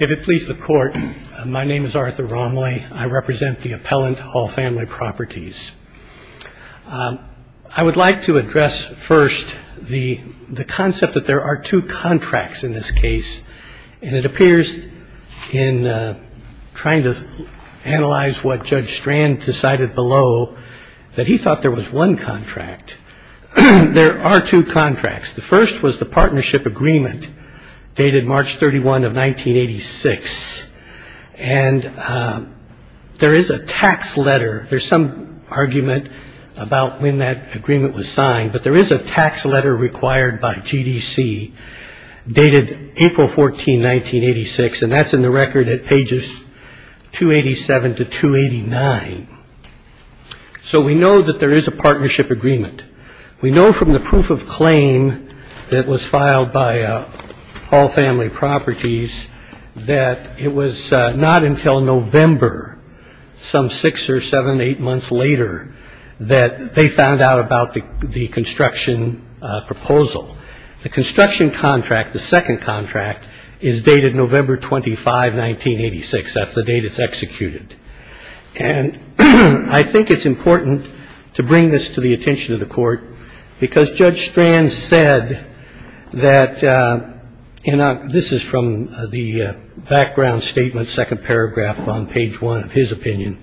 If it pleases the Court, my name is Arthur Romley. I represent the Appellant Hall Family Properties. I would like to address first the concept that there are two contracts in this case. And it appears in trying to analyze what Judge Strand decided below that he thought there was one contract. There are two contracts. The first was the partnership agreement dated March 31 of 1986. And there is a tax letter. There's some argument about when that agreement was signed. But there is a tax letter required by G.D.C. dated April 14, 1986, and that's in the record at pages 287 to 289. So we know that there is a partnership agreement. We know from the proof of claim that was filed by Hall Family Properties that it was not until November, some six or seven, eight months later, that they found out about the construction proposal. The construction contract, the second contract, is dated November 25, 1986. That's the date it's executed. And I think it's important to bring this to the attention of the Court because Judge Strand said that, and this is from the background statement, second paragraph on page one of his opinion.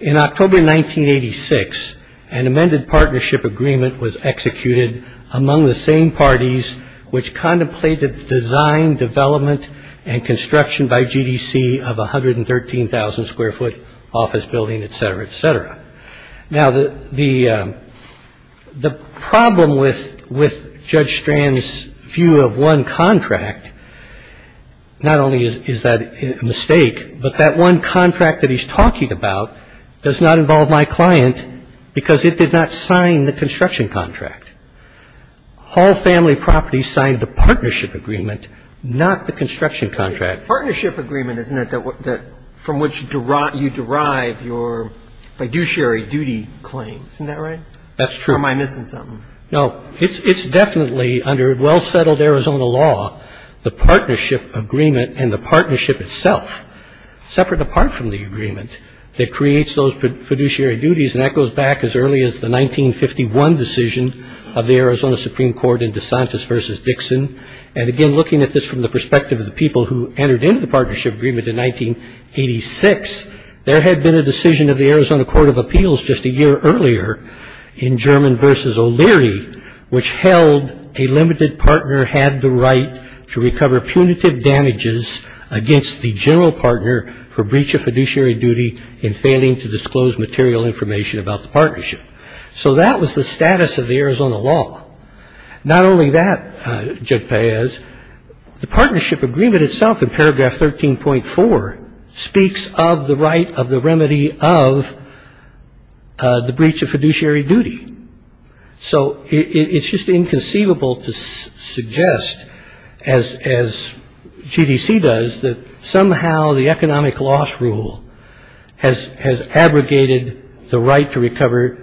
In October 1986, an amended partnership agreement was executed among the same parties which contemplated the design, development, and construction by G.D.C. of a 113,000-square-foot office building, et cetera, et cetera. Now, the problem with Judge Strand's view of one contract, not only is that a mistake, but that one contract that he's talking about does not involve my client because it did not sign the construction contract. Hall Family Properties signed the partnership agreement, not the construction contract. partnership agreement, isn't it, from which you derive your fiduciary duty claim. Isn't that right? That's true. Or am I missing something? No. It's definitely, under well-settled Arizona law, the partnership agreement and the partnership itself, separate apart from the agreement, that creates those fiduciary duties. And that goes back as early as the 1951 decision of the Arizona Supreme Court in DeSantis v. Dixon. And, again, looking at this from the perspective of the people who entered into the partnership agreement in 1986, there had been a decision of the Arizona Court of Appeals just a year earlier in German v. O'Leary, which held a limited partner had the right to recover punitive damages against the general partner for breach of fiduciary duty in failing to disclose material information about the partnership. So that was the status of the Arizona law. Not only that, Judge Paez, the partnership agreement itself, in paragraph 13.4, speaks of the right of the remedy of the breach of fiduciary duty. So it's just inconceivable to suggest, as GDC does, that somehow the economic loss rule has abrogated the right to recover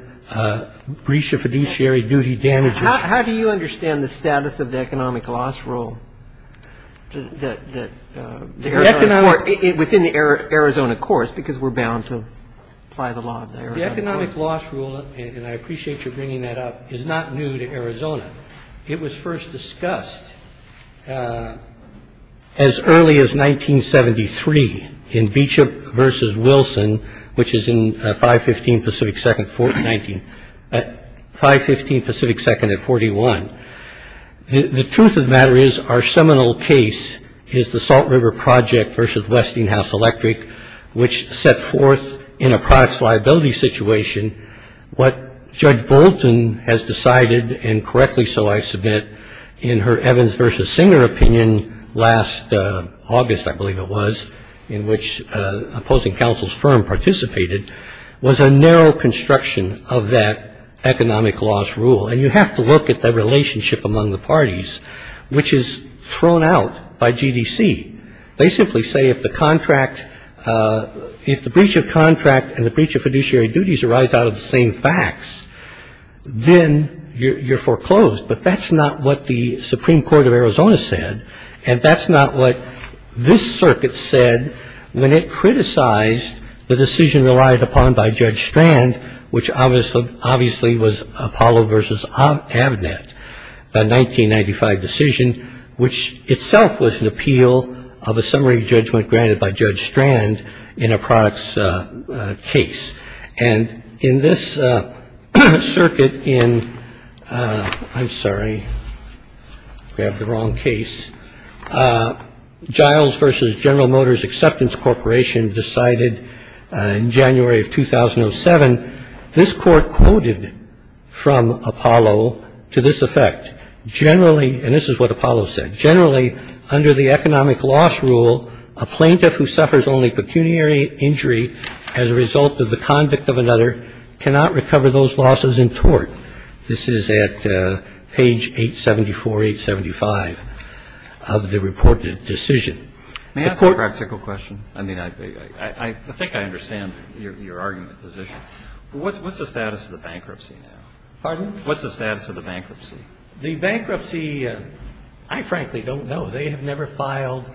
breach of fiduciary duty damages. How do you understand the status of the economic loss rule within the Arizona courts? Because we're bound to apply the law of the Arizona courts. The economic loss rule, and I appreciate your bringing that up, is not new to Arizona. It was first discussed as early as 1973 in Beecher v. Wilson, which is in 515 Pacific 2nd at 41. The truth of the matter is our seminal case is the Salt River Project v. Westinghouse Electric, which set forth in a products liability situation what Judge Bolton has decided, and correctly so, I submit, in her Evans v. Singer opinion last August, I believe it was, in which opposing counsel's firm participated, was a narrow construction of that economic loss rule. And you have to look at the relationship among the parties, which is thrown out by GDC. They simply say if the contract, if the breach of contract and the breach of fiduciary duties arise out of the same facts, then you're foreclosed. But that's not what the Supreme Court of Arizona said, and that's not what this circuit said when it criticized the decision relied upon by Judge Strand, which obviously was Apollo v. Giles-Avnet, the 1995 decision, which itself was an appeal of a summary judgment granted by Judge Strand in a products case. And in this circuit in ‑‑ I'm sorry, grabbed the wrong case. Giles v. General Motors Acceptance Corporation decided in January of 2007, this Court quoted from Apollo to this effect, generally, and this is what Apollo said, generally under the economic loss rule, a plaintiff who suffers only pecuniary injury as a result of the conduct of another cannot recover those losses in tort. This is at page 874, 875 of the reported decision. The Court ‑‑ What's the status of the bankruptcy now? Pardon? What's the status of the bankruptcy? The bankruptcy, I frankly don't know. They have never filed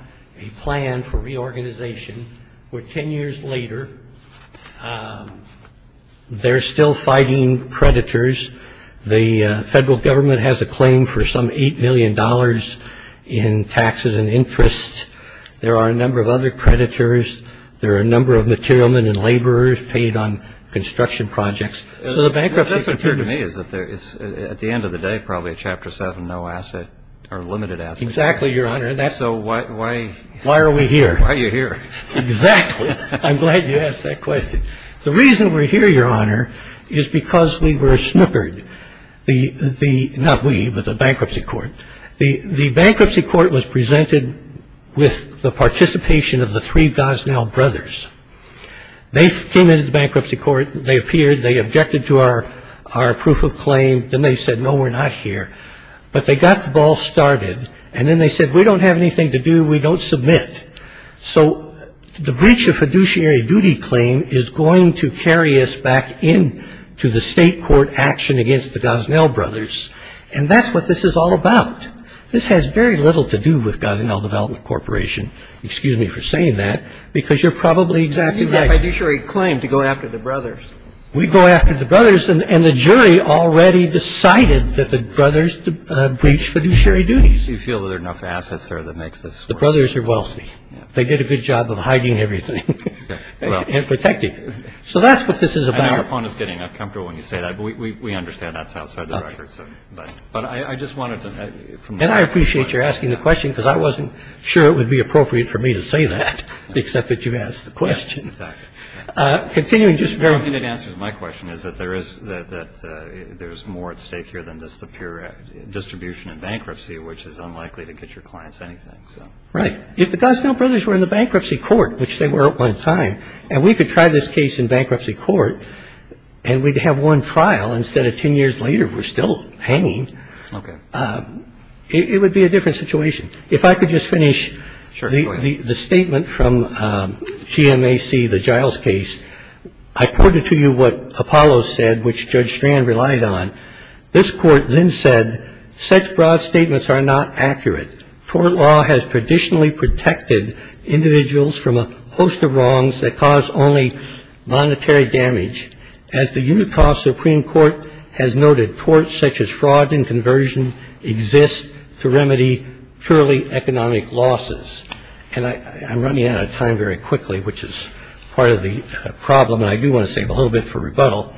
a plan for reorganization. We're 10 years later. They're still fighting predators. The Federal Government has a claim for some $8 million in taxes and interest. There are a number of other predators. There are a number of material men and laborers paid on construction projects. So the bankruptcy ‑‑ What doesn't appear to me is at the end of the day, probably a Chapter 7 no asset or limited asset. Exactly, Your Honor. So why ‑‑ Why are we here? Why are you here? Exactly. I'm glad you asked that question. The reason we're here, Your Honor, is because we were snookered. The ‑‑ not we, but the bankruptcy court. The bankruptcy court was presented with the participation of the three Gosnell brothers. They came into the bankruptcy court. They appeared. They objected to our proof of claim. Then they said, no, we're not here. But they got the ball started. And then they said, we don't have anything to do. We don't submit. So the breach of fiduciary duty claim is going to carry us back into the state court action against the Gosnell brothers. And that's what this is all about. This has very little to do with Gosnell Development Corporation, excuse me for saying that, because you're probably exactly right. You have a fiduciary claim to go after the brothers. We go after the brothers. And the jury already decided that the brothers breached fiduciary duties. Do you feel that there are enough assets there that makes this work? The brothers are wealthy. They did a good job of hiding everything and protecting it. So that's what this is about. The point is getting uncomfortable when you say that, but we understand that's outside the record. But I just wanted to ---- And I appreciate you asking the question, because I wasn't sure it would be appropriate for me to say that. Except that you asked the question. Continuing, just very ---- My question is that there is more at stake here than just the pure distribution and bankruptcy, which is unlikely to get your clients anything. Right. If the Gosnell brothers were in the bankruptcy court, which they were at one time, and we could try this case in bankruptcy court and we'd have one trial instead of ten years later, we're still hanging. Okay. It would be a different situation. If I could just finish the statement from GMAC, the Giles case. I quoted to you what Apollo said, which Judge Strand relied on. This court then said, such broad statements are not accurate. Tort law has traditionally protected individuals from a host of wrongs that cause only monetary damage. As the Utah Supreme Court has noted, torts such as fraud and conversion exist to remedy purely economic losses. And I'm running out of time very quickly, which is part of the problem, and I do want to save a little bit for rebuttal.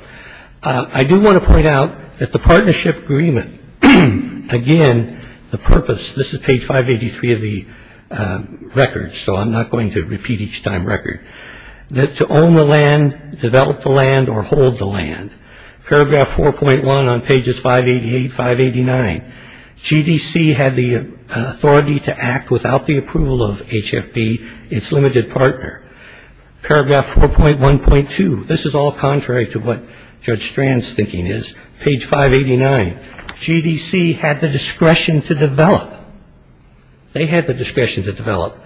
I do want to point out that the partnership agreement, again, the purpose, this is page 583 of the record, so I'm not going to repeat each time record, that to own the land, develop the land, or hold the land. Paragraph 4.1 on pages 588, 589, GDC had the authority to act without the approval of HFB, its limited partner. Paragraph 4.1.2, this is all contrary to what Judge Strand's thinking is. Page 589, GDC had the discretion to develop. They had the discretion to develop.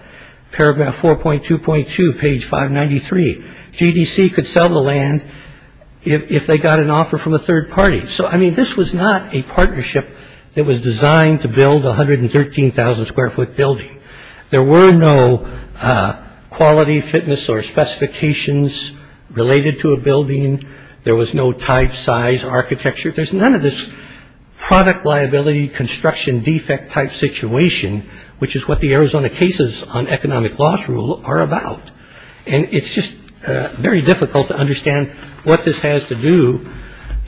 Paragraph 4.2.2, page 593, GDC could sell the land if they got an offer from a third party. So, I mean, this was not a partnership that was designed to build a 113,000-square-foot building. There were no quality, fitness, or specifications related to a building. There was no type, size, architecture. There's none of this product liability, construction defect type situation, which is what the Arizona cases on economic loss rule are about. And it's just very difficult to understand what this has to do,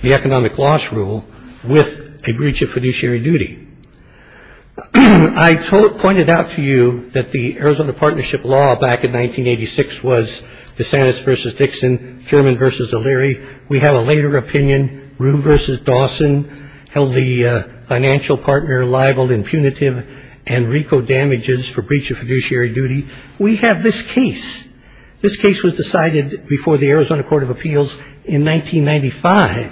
the economic loss rule, with a breach of fiduciary duty. I pointed out to you that the Arizona partnership law back in 1986 was DeSantis v. Dixon, German v. O'Leary. We have a later opinion, Rue v. Dawson held the financial partner liable in punitive and RICO damages for breach of fiduciary duty. We have this case. This case was decided before the Arizona Court of Appeals in 1995,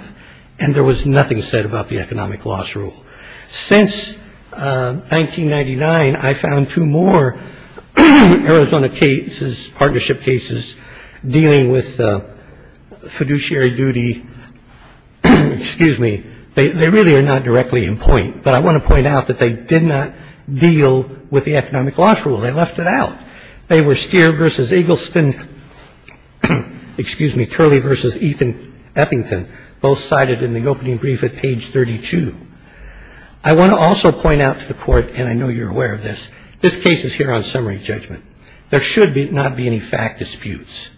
and there was nothing said about the economic loss rule. Since 1999, I found two more Arizona cases, partnership cases, dealing with fiduciary duty. Excuse me. They really are not directly in point, but I want to point out that they did not deal with the economic loss rule. They left it out. They were Steer v. Eagleston, excuse me, Curley v. Ethan Eppington. Both cited in the opening brief at page 32. I want to also point out to the Court, and I know you're aware of this, this case is here on summary judgment. There should not be any fact disputes.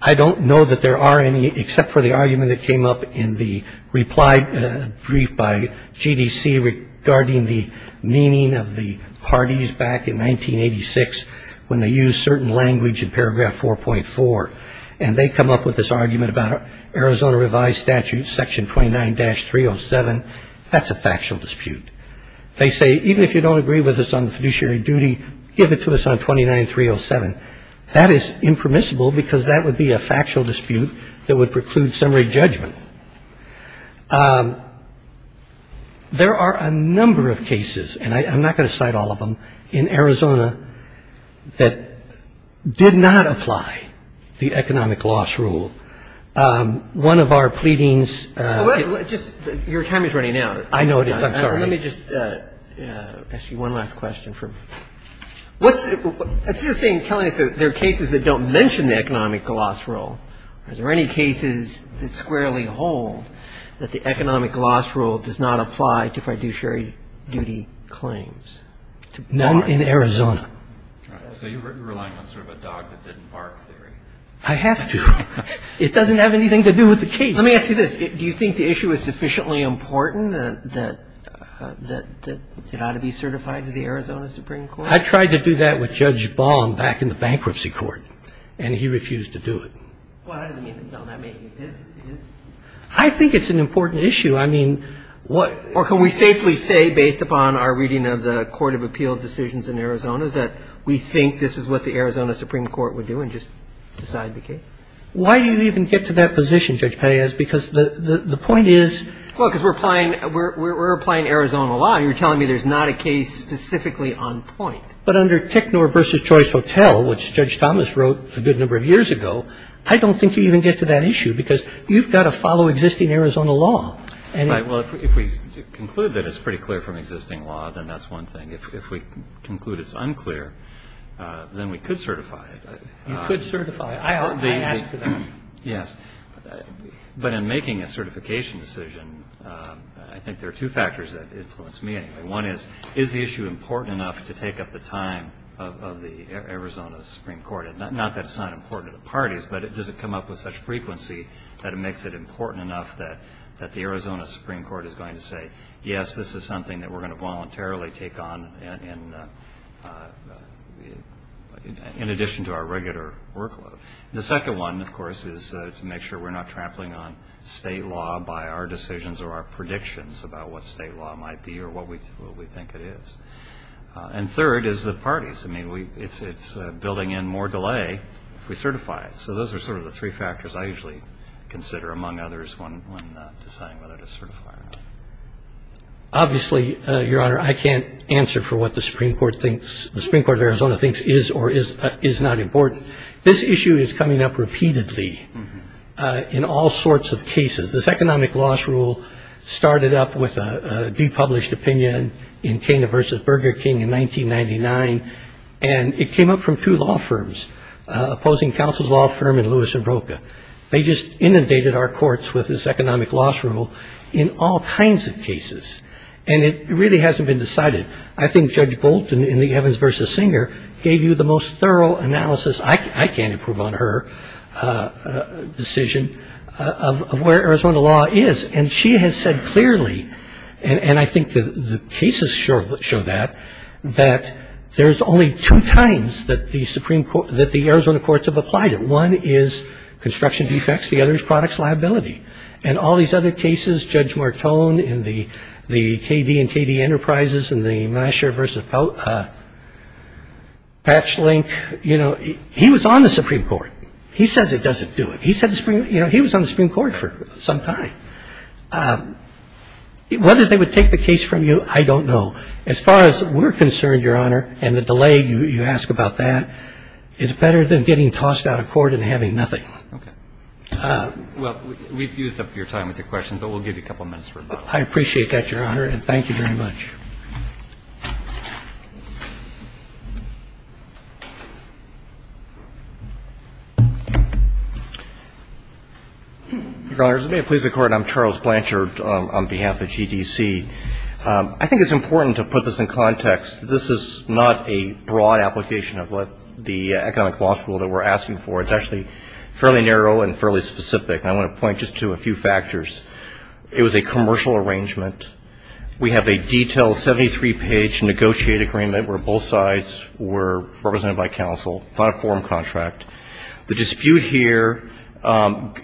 I don't know that there are any, except for the argument that came up in the reply brief by GDC regarding the meaning of the parties back in 1986. When they use certain language in paragraph 4.4, and they come up with this argument about Arizona revised statute section 29-307, that's a factual dispute. They say even if you don't agree with us on the fiduciary duty, give it to us on 29-307. That is impermissible because that would be a factual dispute that would preclude summary judgment. There are a number of cases, and I'm not going to cite all of them, in Arizona that did not apply the economic loss rule. One of our pleadings — Just your time is running out. I know it is. I'm sorry. Let me just ask you one last question. What's — I see you're saying, telling us that there are cases that don't mention the economic loss rule. Are there any cases that squarely hold that the economic loss rule does not apply to fiduciary duty claims? None in Arizona. All right. So you're relying on sort of a dog-that-didn't-bark theory. I have to. It doesn't have anything to do with the case. Let me ask you this. Do you think the issue is sufficiently important that it ought to be certified to the Arizona Supreme Court? I tried to do that with Judge Baum back in the bankruptcy court, and he refused to do it. Well, that doesn't mean that making it is. I think it's an important issue. I mean, what — Or can we safely say, based upon our reading of the court of appeal decisions in Arizona, that we think this is what the Arizona Supreme Court would do and just decide the case? Why do you even get to that position, Judge Pelleas? Because the point is — Well, because we're applying Arizona law, and you're telling me there's not a case specifically on point. But under Technor v. Choice Hotel, which Judge Thomas wrote a good number of years ago, I don't think you even get to that issue because you've got to follow existing Arizona law. Right. Well, if we conclude that it's pretty clear from existing law, then that's one thing. If we conclude it's unclear, then we could certify it. You could certify it. I asked for that. Yes. But in making a certification decision, I think there are two factors that influence me. One is, is the issue important enough to take up the time of the Arizona Supreme Court? Not that it's not important to the parties, but does it come up with such frequency that it makes it important enough that the Arizona Supreme Court is going to say, yes, this is something that we're going to voluntarily take on in addition to our regular workload? The second one, of course, is to make sure we're not trampling on state law by our decisions or our predictions about what state law might be or what we think it is. And third is the parties. I mean, it's building in more delay if we certify it. So those are sort of the three factors I usually consider, among others, when deciding whether to certify or not. Obviously, Your Honor, I can't answer for what the Supreme Court of Arizona thinks is or is not important. This issue is coming up repeatedly in all sorts of cases. This economic loss rule started up with a depublished opinion in Kena v. Burger King in 1999, and it came up from two law firms, opposing counsel's law firm in Lewis and Broca. They just inundated our courts with this economic loss rule in all kinds of cases. And it really hasn't been decided. I think Judge Bolt in the Evans v. Singer gave you the most thorough analysis. I can't improve on her decision of where Arizona law is. And she has said clearly, and I think the cases show that, that there's only two times that the Arizona courts have applied it. One is construction defects. The other is products liability. And all these other cases, Judge Martone in the KD and KD Enterprises and the Meischer v. Patchlink, you know, he was on the Supreme Court. He says it doesn't do it. He said the Supreme Court, you know, he was on the Supreme Court for some time. Whether they would take the case from you, I don't know. As far as we're concerned, Your Honor, and the delay you ask about that, it's better than getting tossed out of court and having nothing. Okay. Well, we've used up your time with your questions, but we'll give you a couple minutes for a moment. I appreciate that, Your Honor, and thank you very much. Your Honor, as it may have pleased the Court, I'm Charles Blanchard on behalf of GDC. I think it's important to put this in context. This is not a broad application of what the economic law school that we're asking for. It's actually fairly narrow and fairly specific. And I want to point just to a few factors. It was a commercial arrangement. We have a detailed 73-page negotiated agreement where both sides were represented by counsel on a forum contract. The dispute here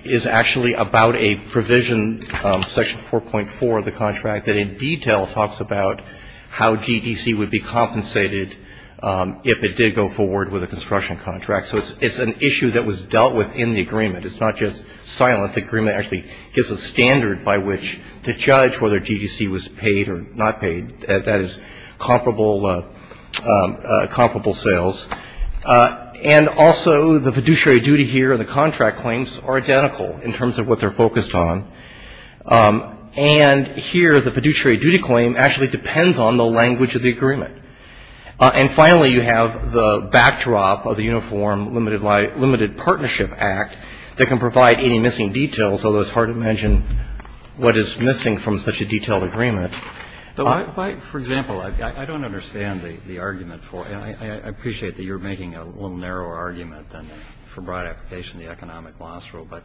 is actually about a provision, Section 4.4 of the contract, that in detail talks about how GDC would be compensated if it did go forward with a construction contract. So it's an issue that was dealt with in the agreement. It's not just silent. The agreement actually gives a standard by which to judge whether GDC was paid or not paid. That is comparable sales. And also the fiduciary duty here and the contract claims are identical in terms of what they're focused on. And here the fiduciary duty claim actually depends on the language of the agreement. And finally, you have the backdrop of the Uniform Limited Partnership Act that can provide any missing details, although it's hard to mention what is missing from such a detailed agreement. But why, for example, I don't understand the argument for it. I appreciate that you're making a little narrower argument than for broad application of the economic law school. But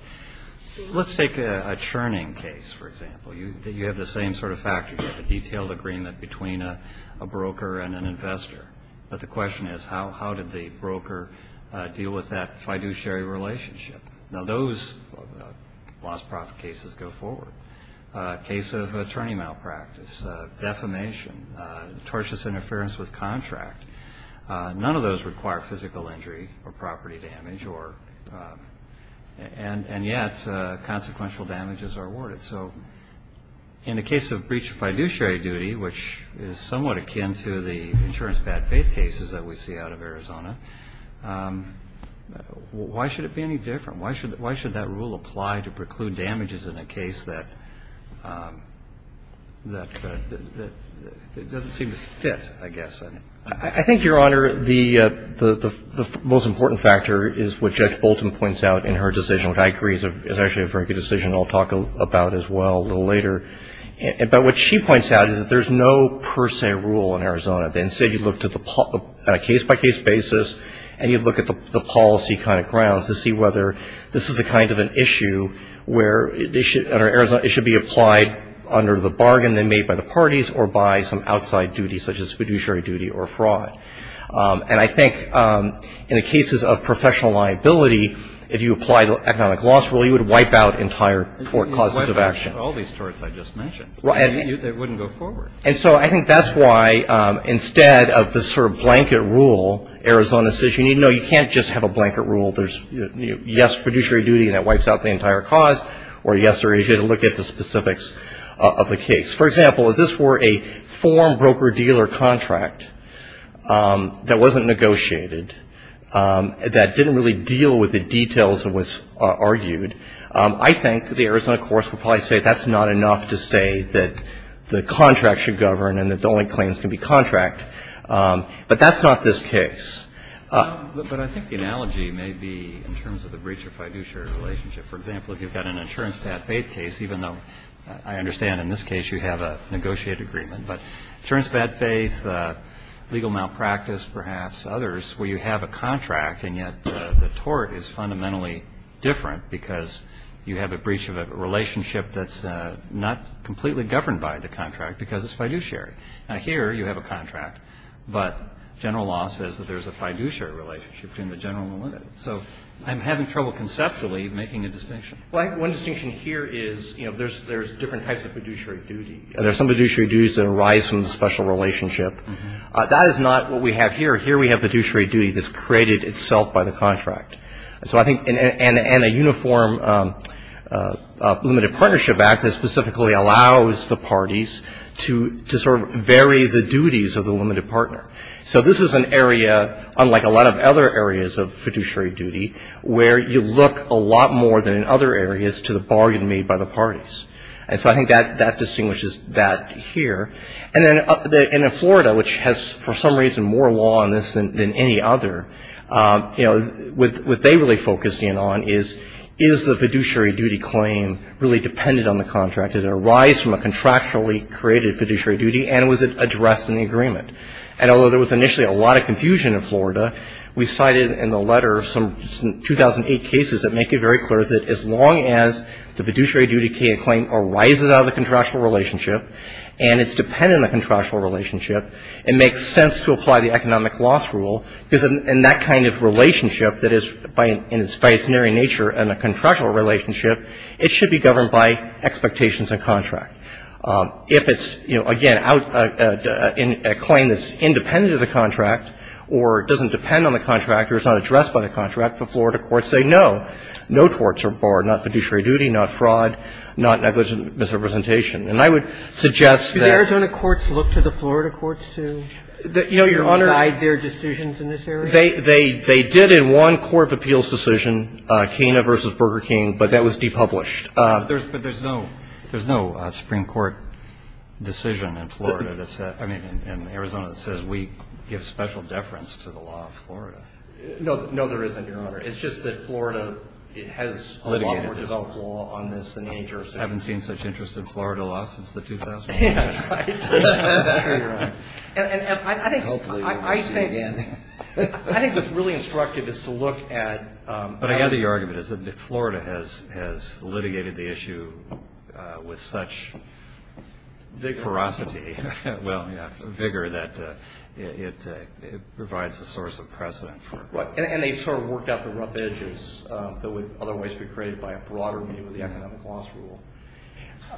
let's take a churning case, for example. You have the same sort of factor. You have a detailed agreement between a broker and an investor. But the question is, how did the broker deal with that fiduciary relationship? Now, those loss-profit cases go forward. A case of attorney malpractice, defamation, tortious interference with contract, none of those require physical injury or property damage, and yet consequential damages are awarded. So in the case of breach of fiduciary duty, which is somewhat akin to the insurance bad faith cases that we see out of Arizona, why should it be any different? Why should that rule apply to preclude damages in a case that doesn't seem to fit, I guess? I think, Your Honor, the most important factor is what Judge Bolton points out in her decision, which I agree is actually a very good decision. I'll talk about it as well a little later. But what she points out is that there's no per se rule in Arizona. Instead, you look at it on a case-by-case basis, and you look at the policy kind of grounds to see whether this is the kind of an issue where it should be applied under the bargain made by the parties or by some outside duty such as fiduciary duty or fraud. And I think in the cases of professional liability, if you apply the economic loss rule, you would wipe out entire causes of action. You wouldn't wipe out all these torts I just mentioned. It wouldn't go forward. And so I think that's why instead of this sort of blanket rule, Arizona says, you need to know you can't just have a blanket rule. There's, you know, yes, fiduciary duty, and that wipes out the entire cause, or yes, there is. You have to look at the specifics of the case. For example, if this were a form broker-dealer contract that wasn't negotiated, that didn't really deal with the details of what's argued, I think the Arizona courts would probably say that's not enough to say that the contract should govern and that the only claims can be contract. But that's not this case. But I think the analogy may be in terms of the breach of fiduciary relationship. For example, if you've got an insurance bad faith case, even though I understand in this case you have a negotiated agreement, but insurance bad faith, legal malpractice perhaps, others, where you have a contract and yet the tort is fundamentally different because you have a breach of a relationship that's not completely governed by the contract because it's fiduciary. Now, here you have a contract, but general law says that there's a fiduciary relationship between the general and the limited. So I'm having trouble conceptually making a distinction. One distinction here is, you know, there's different types of fiduciary duty. There's some fiduciary duties that arise from the special relationship. That is not what we have here. Here we have fiduciary duty that's created itself by the contract. So I think in a uniform limited partnership act that specifically allows the parties to sort of vary the duties of the limited partner. So this is an area, unlike a lot of other areas of fiduciary duty, where you look a lot more than in other areas to the bargain made by the parties. And so I think that distinguishes that here. And then in Florida, which has for some reason more law on this than any other, you know, what they really focused in on is, is the fiduciary duty claim really dependent on the contract? Did it arise from a contractually created fiduciary duty? And was it addressed in the agreement? And although there was initially a lot of confusion in Florida, we cited in the letter some 2008 cases that make it very clear that as long as the fiduciary duty claim arises out of the contractual relationship, and it's dependent on the contractual relationship, it makes sense to apply the economic loss rule, because in that kind of relationship that is by its very nature in a contractual relationship, it should be governed by expectations and contract. If it's, you know, again, out in a claim that's independent of the contract or doesn't depend on the contract or is not addressed by the contract, the Florida courts say no. No courts are barred. Not fiduciary duty, not fraud, not negligent misrepresentation. And I would suggest that ---- Do the Arizona courts look to the Florida courts to ---- You know, Your Honor ---- to provide their decisions in this area? They did in one court of appeals decision, Kena v. Burger King, but that was depublished. But there's no ---- there's no Supreme Court decision in Florida that says ---- I mean, in Arizona that says we give special deference to the law of Florida. No. No, there isn't, Your Honor. It's just that Florida has a lot more developed law on this than any other city. I haven't seen such interest in Florida law since the 2000s. That's right. That's true, Your Honor. And I think ---- Hopefully we'll see it again. I think what's really instructive is to look at ---- But I gather your argument is that Florida has litigated the issue with such big ferocity, well, yeah, vigor that it provides a source of precedent for ---- And they sort of worked out the rough edges that would otherwise be created by a broader view of the economic loss rule.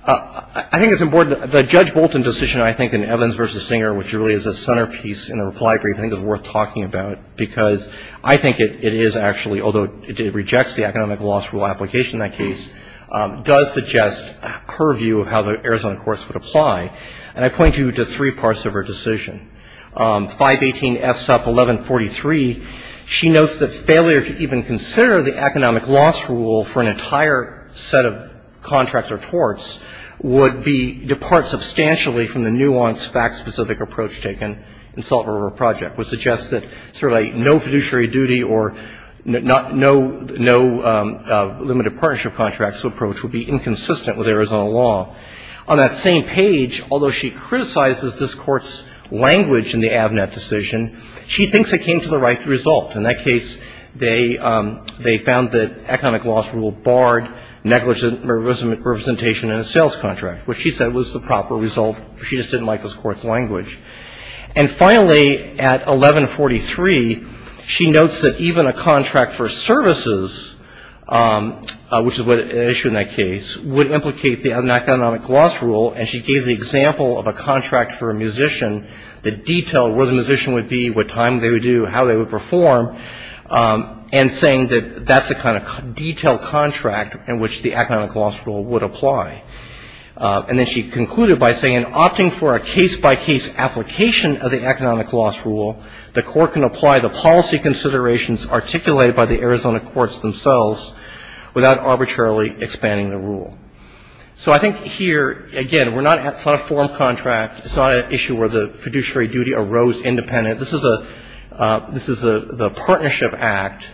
I think it's important. The Judge Bolton decision, I think, in Evans v. Singer, which really is a centerpiece in a reply brief, I think is worth talking about because I think it is actually, although it rejects the economic loss rule application in that case, does suggest a purview of how the Arizona courts would apply. And I point you to three parts of her decision. 518 FSUP 1143, she notes that failure to even consider the economic loss rule for an entire set of contracts or torts would be ---- depart substantially from the nuance, fact-specific approach taken in Salt River Project, which suggests that sort of a no fiduciary duty or no limited partnership contracts approach would be inconsistent with Arizona law. On that same page, although she criticizes this Court's language in the Avnet decision, she thinks it came to the right result. In that case, they found that economic loss rule barred negligent representation in a sales contract, which she said was the proper result. She just didn't like this Court's language. And finally, at 1143, she notes that even a contract for services, which is an issue in that case, would implicate an economic loss rule. And she gave the example of a contract for a musician, the detail, where the musician would be, what time they would do, how they would perform, and saying that that's the kind of detailed contract in which the economic loss rule would apply. And then she concluded by saying, opting for a case-by-case application of the economic loss rule, the Court can apply the policy considerations articulated by the Arizona courts themselves without arbitrarily expanding the rule. So I think here, again, it's not a form contract. It's not an issue where the fiduciary duty arose independent. This is a partnership act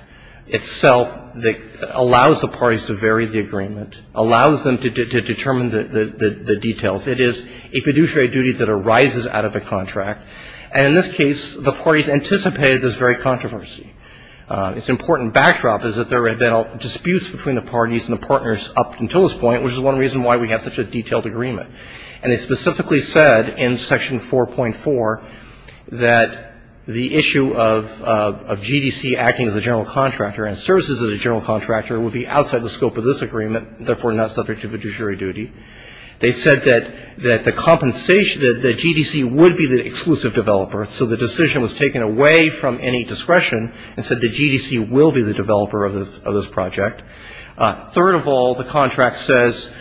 itself that allows the parties to vary the agreement, allows them to determine the details. It is a fiduciary duty that arises out of the contract. And in this case, the parties anticipated this very controversy. Its important backdrop is that there had been disputes between the parties and the partners up until this point, which is one reason why we have such a detailed agreement. And they specifically said in Section 4.4 that the issue of GDC acting as a general contractor and services as a general contractor would be outside the scope of this agreement, therefore not subject to fiduciary duty. They said that the compensation, that GDC would be the exclusive developer, so the decision was taken away from any discretion and said that GDC will be the developer of this project. Third of all, the contract says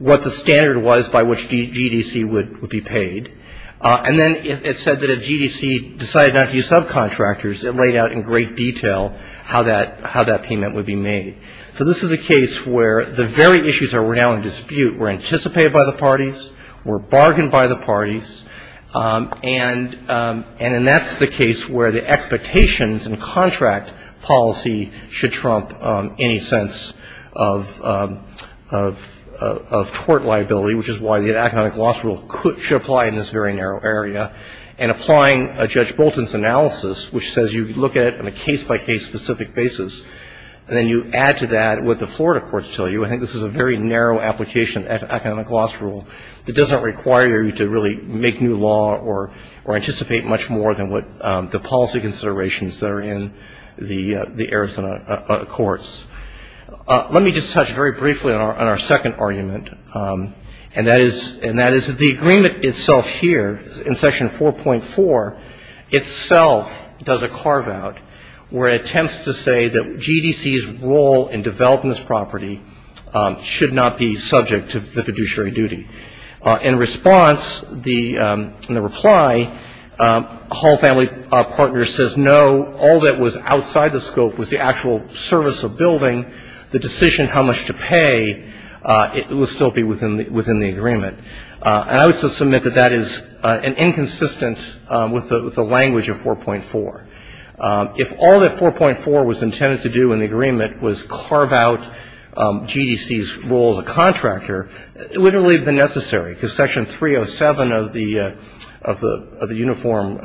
what the standard was by which GDC would be paid. And then it said that if GDC decided not to use subcontractors, it laid out in great detail how that payment would be made. So this is a case where the very issues that were now in dispute were anticipated by the parties, were bargained by the parties, and then that's the case where the expectations and contract policy should trump any sense of tort liability, which is why the economic loss rule should apply in this very narrow area. And applying Judge Bolton's analysis, which says you look at it on a case-by-case specific basis, and then you add to that what the Florida courts tell you, I think this is a very narrow application of the economic loss rule that doesn't require you to really make new law or anticipate much more than what the policy considerations that are in the Arizona courts. Let me just touch very briefly on our second argument, and that is that the agreement itself here in Section 4.4 itself does a carve-out where it attempts to say that GDC's role in developing this property should not be subject to the fiduciary duty. In response, in the reply, a Hall family partner says, no, all that was outside the scope was the actual service of building. The decision how much to pay will still be within the agreement. And I would submit that that is inconsistent with the language of 4.4. If all that 4.4 was intended to do in the agreement was carve out GDC's role as a contractor, it wouldn't really have been necessary, because Section 307 of the Uniform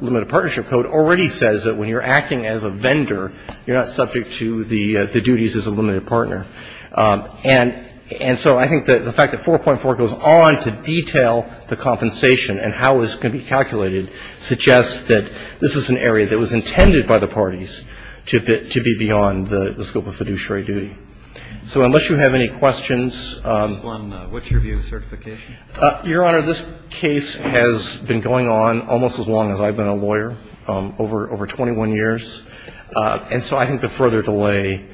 Limited Partnership Code already says that when you're acting as a vendor, you're not subject to the duties as a limited partner. And so I think the fact that 4.4 goes on to detail the compensation and how it's going to be calculated suggests that this is an area that was intended by the parties to be beyond the scope of fiduciary duty. So unless you have any questions ---- What's your view of the certification? Your Honor, this case has been going on almost as long as I've been a lawyer, over 21 years. And so I think the further delay,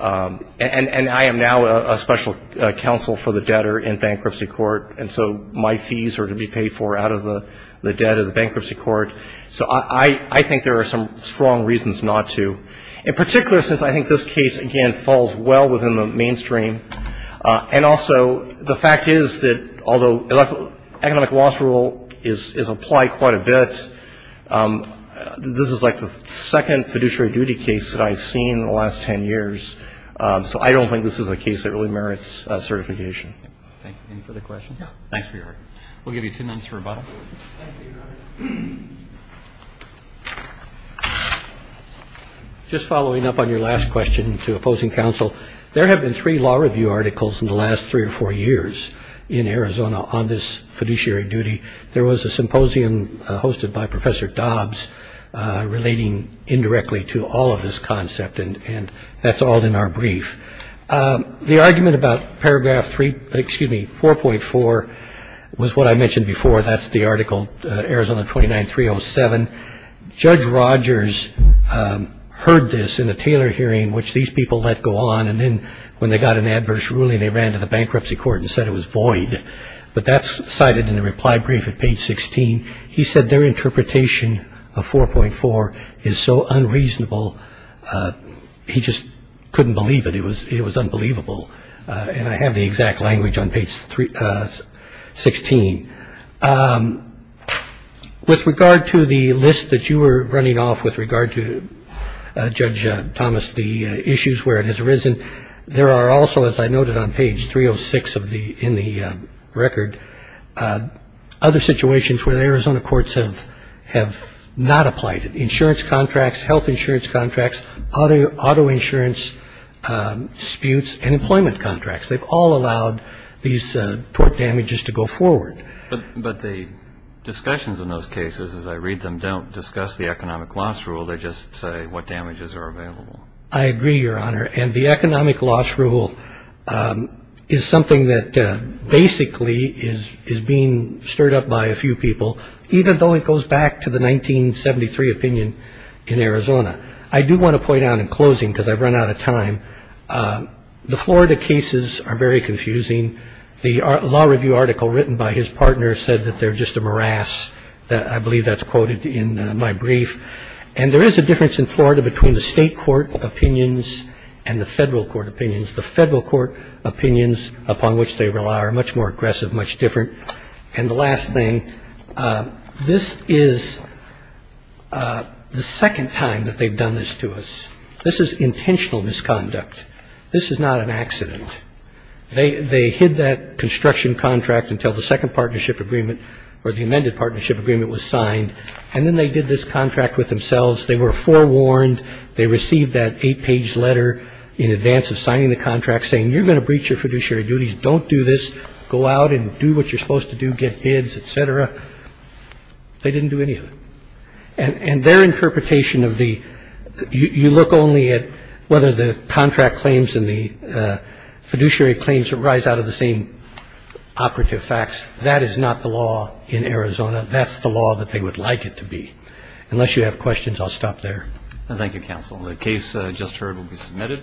and I am now a special counsel for the debtor in bankruptcy court, and so my fees are to be paid for out of the debt of the bankruptcy court. So I think there are some strong reasons not to, in particular since I think this case, again, falls well within the mainstream. And also the fact is that although economic loss rule is applied quite a bit, this is like the second fiduciary duty case that I've seen in the last 10 years. So I don't think this is a case that really merits certification. Thank you. Any further questions? Thanks for your hard work. We'll give you two minutes for rebuttal. Thank you, Your Honor. Just following up on your last question to opposing counsel, there have been three law review articles in the last three or four years in Arizona on this fiduciary duty. There was a symposium hosted by Professor Dobbs relating indirectly to all of this concept, and that's all in our brief. The argument about paragraph 3, excuse me, 4.4 was what I mentioned before. That's the article Arizona 29307. Judge Rogers heard this in the Taylor hearing, which these people let go on, and then when they got an adverse ruling, they ran to the bankruptcy court and said it was void. But that's cited in the reply brief at page 16. He said their interpretation of 4.4 is so unreasonable, he just couldn't believe it. It was unbelievable. And I have the exact language on page 16. With regard to the list that you were running off with regard to, Judge Thomas, the issues where it has arisen, there are also, as I noted on page 306 in the record, other situations where the Arizona courts have not applied it. They've allowed insurance contracts, health insurance contracts, auto insurance disputes, and employment contracts. They've all allowed these tort damages to go forward. But the discussions in those cases, as I read them, don't discuss the economic loss rule. They just say what damages are available. I agree, Your Honor. And the economic loss rule is something that basically is being stirred up by a few people, even though it goes back to the 1973 opinion in Arizona. I do want to point out in closing, because I've run out of time, the Florida cases are very confusing. The law review article written by his partner said that they're just a morass. I believe that's quoted in my brief. And there is a difference in Florida between the state court opinions and the federal court opinions. The federal court opinions, upon which they rely, are much more aggressive, much different. And the last thing, this is the second time that they've done this to us. This is intentional misconduct. This is not an accident. They hid that construction contract until the second partnership agreement or the amended partnership agreement was signed, and then they did this contract with themselves. They were forewarned. They received that eight-page letter in advance of signing the contract saying, you're going to breach your fiduciary duties. Don't do this. Go out and do what you're supposed to do. Get kids, et cetera. They didn't do any of it. And their interpretation of the you look only at whether the contract claims and the fiduciary claims arise out of the same operative facts. That is not the law in Arizona. That's the law that they would like it to be. Unless you have questions, I'll stop there. Thank you, counsel. The case just heard will be submitted.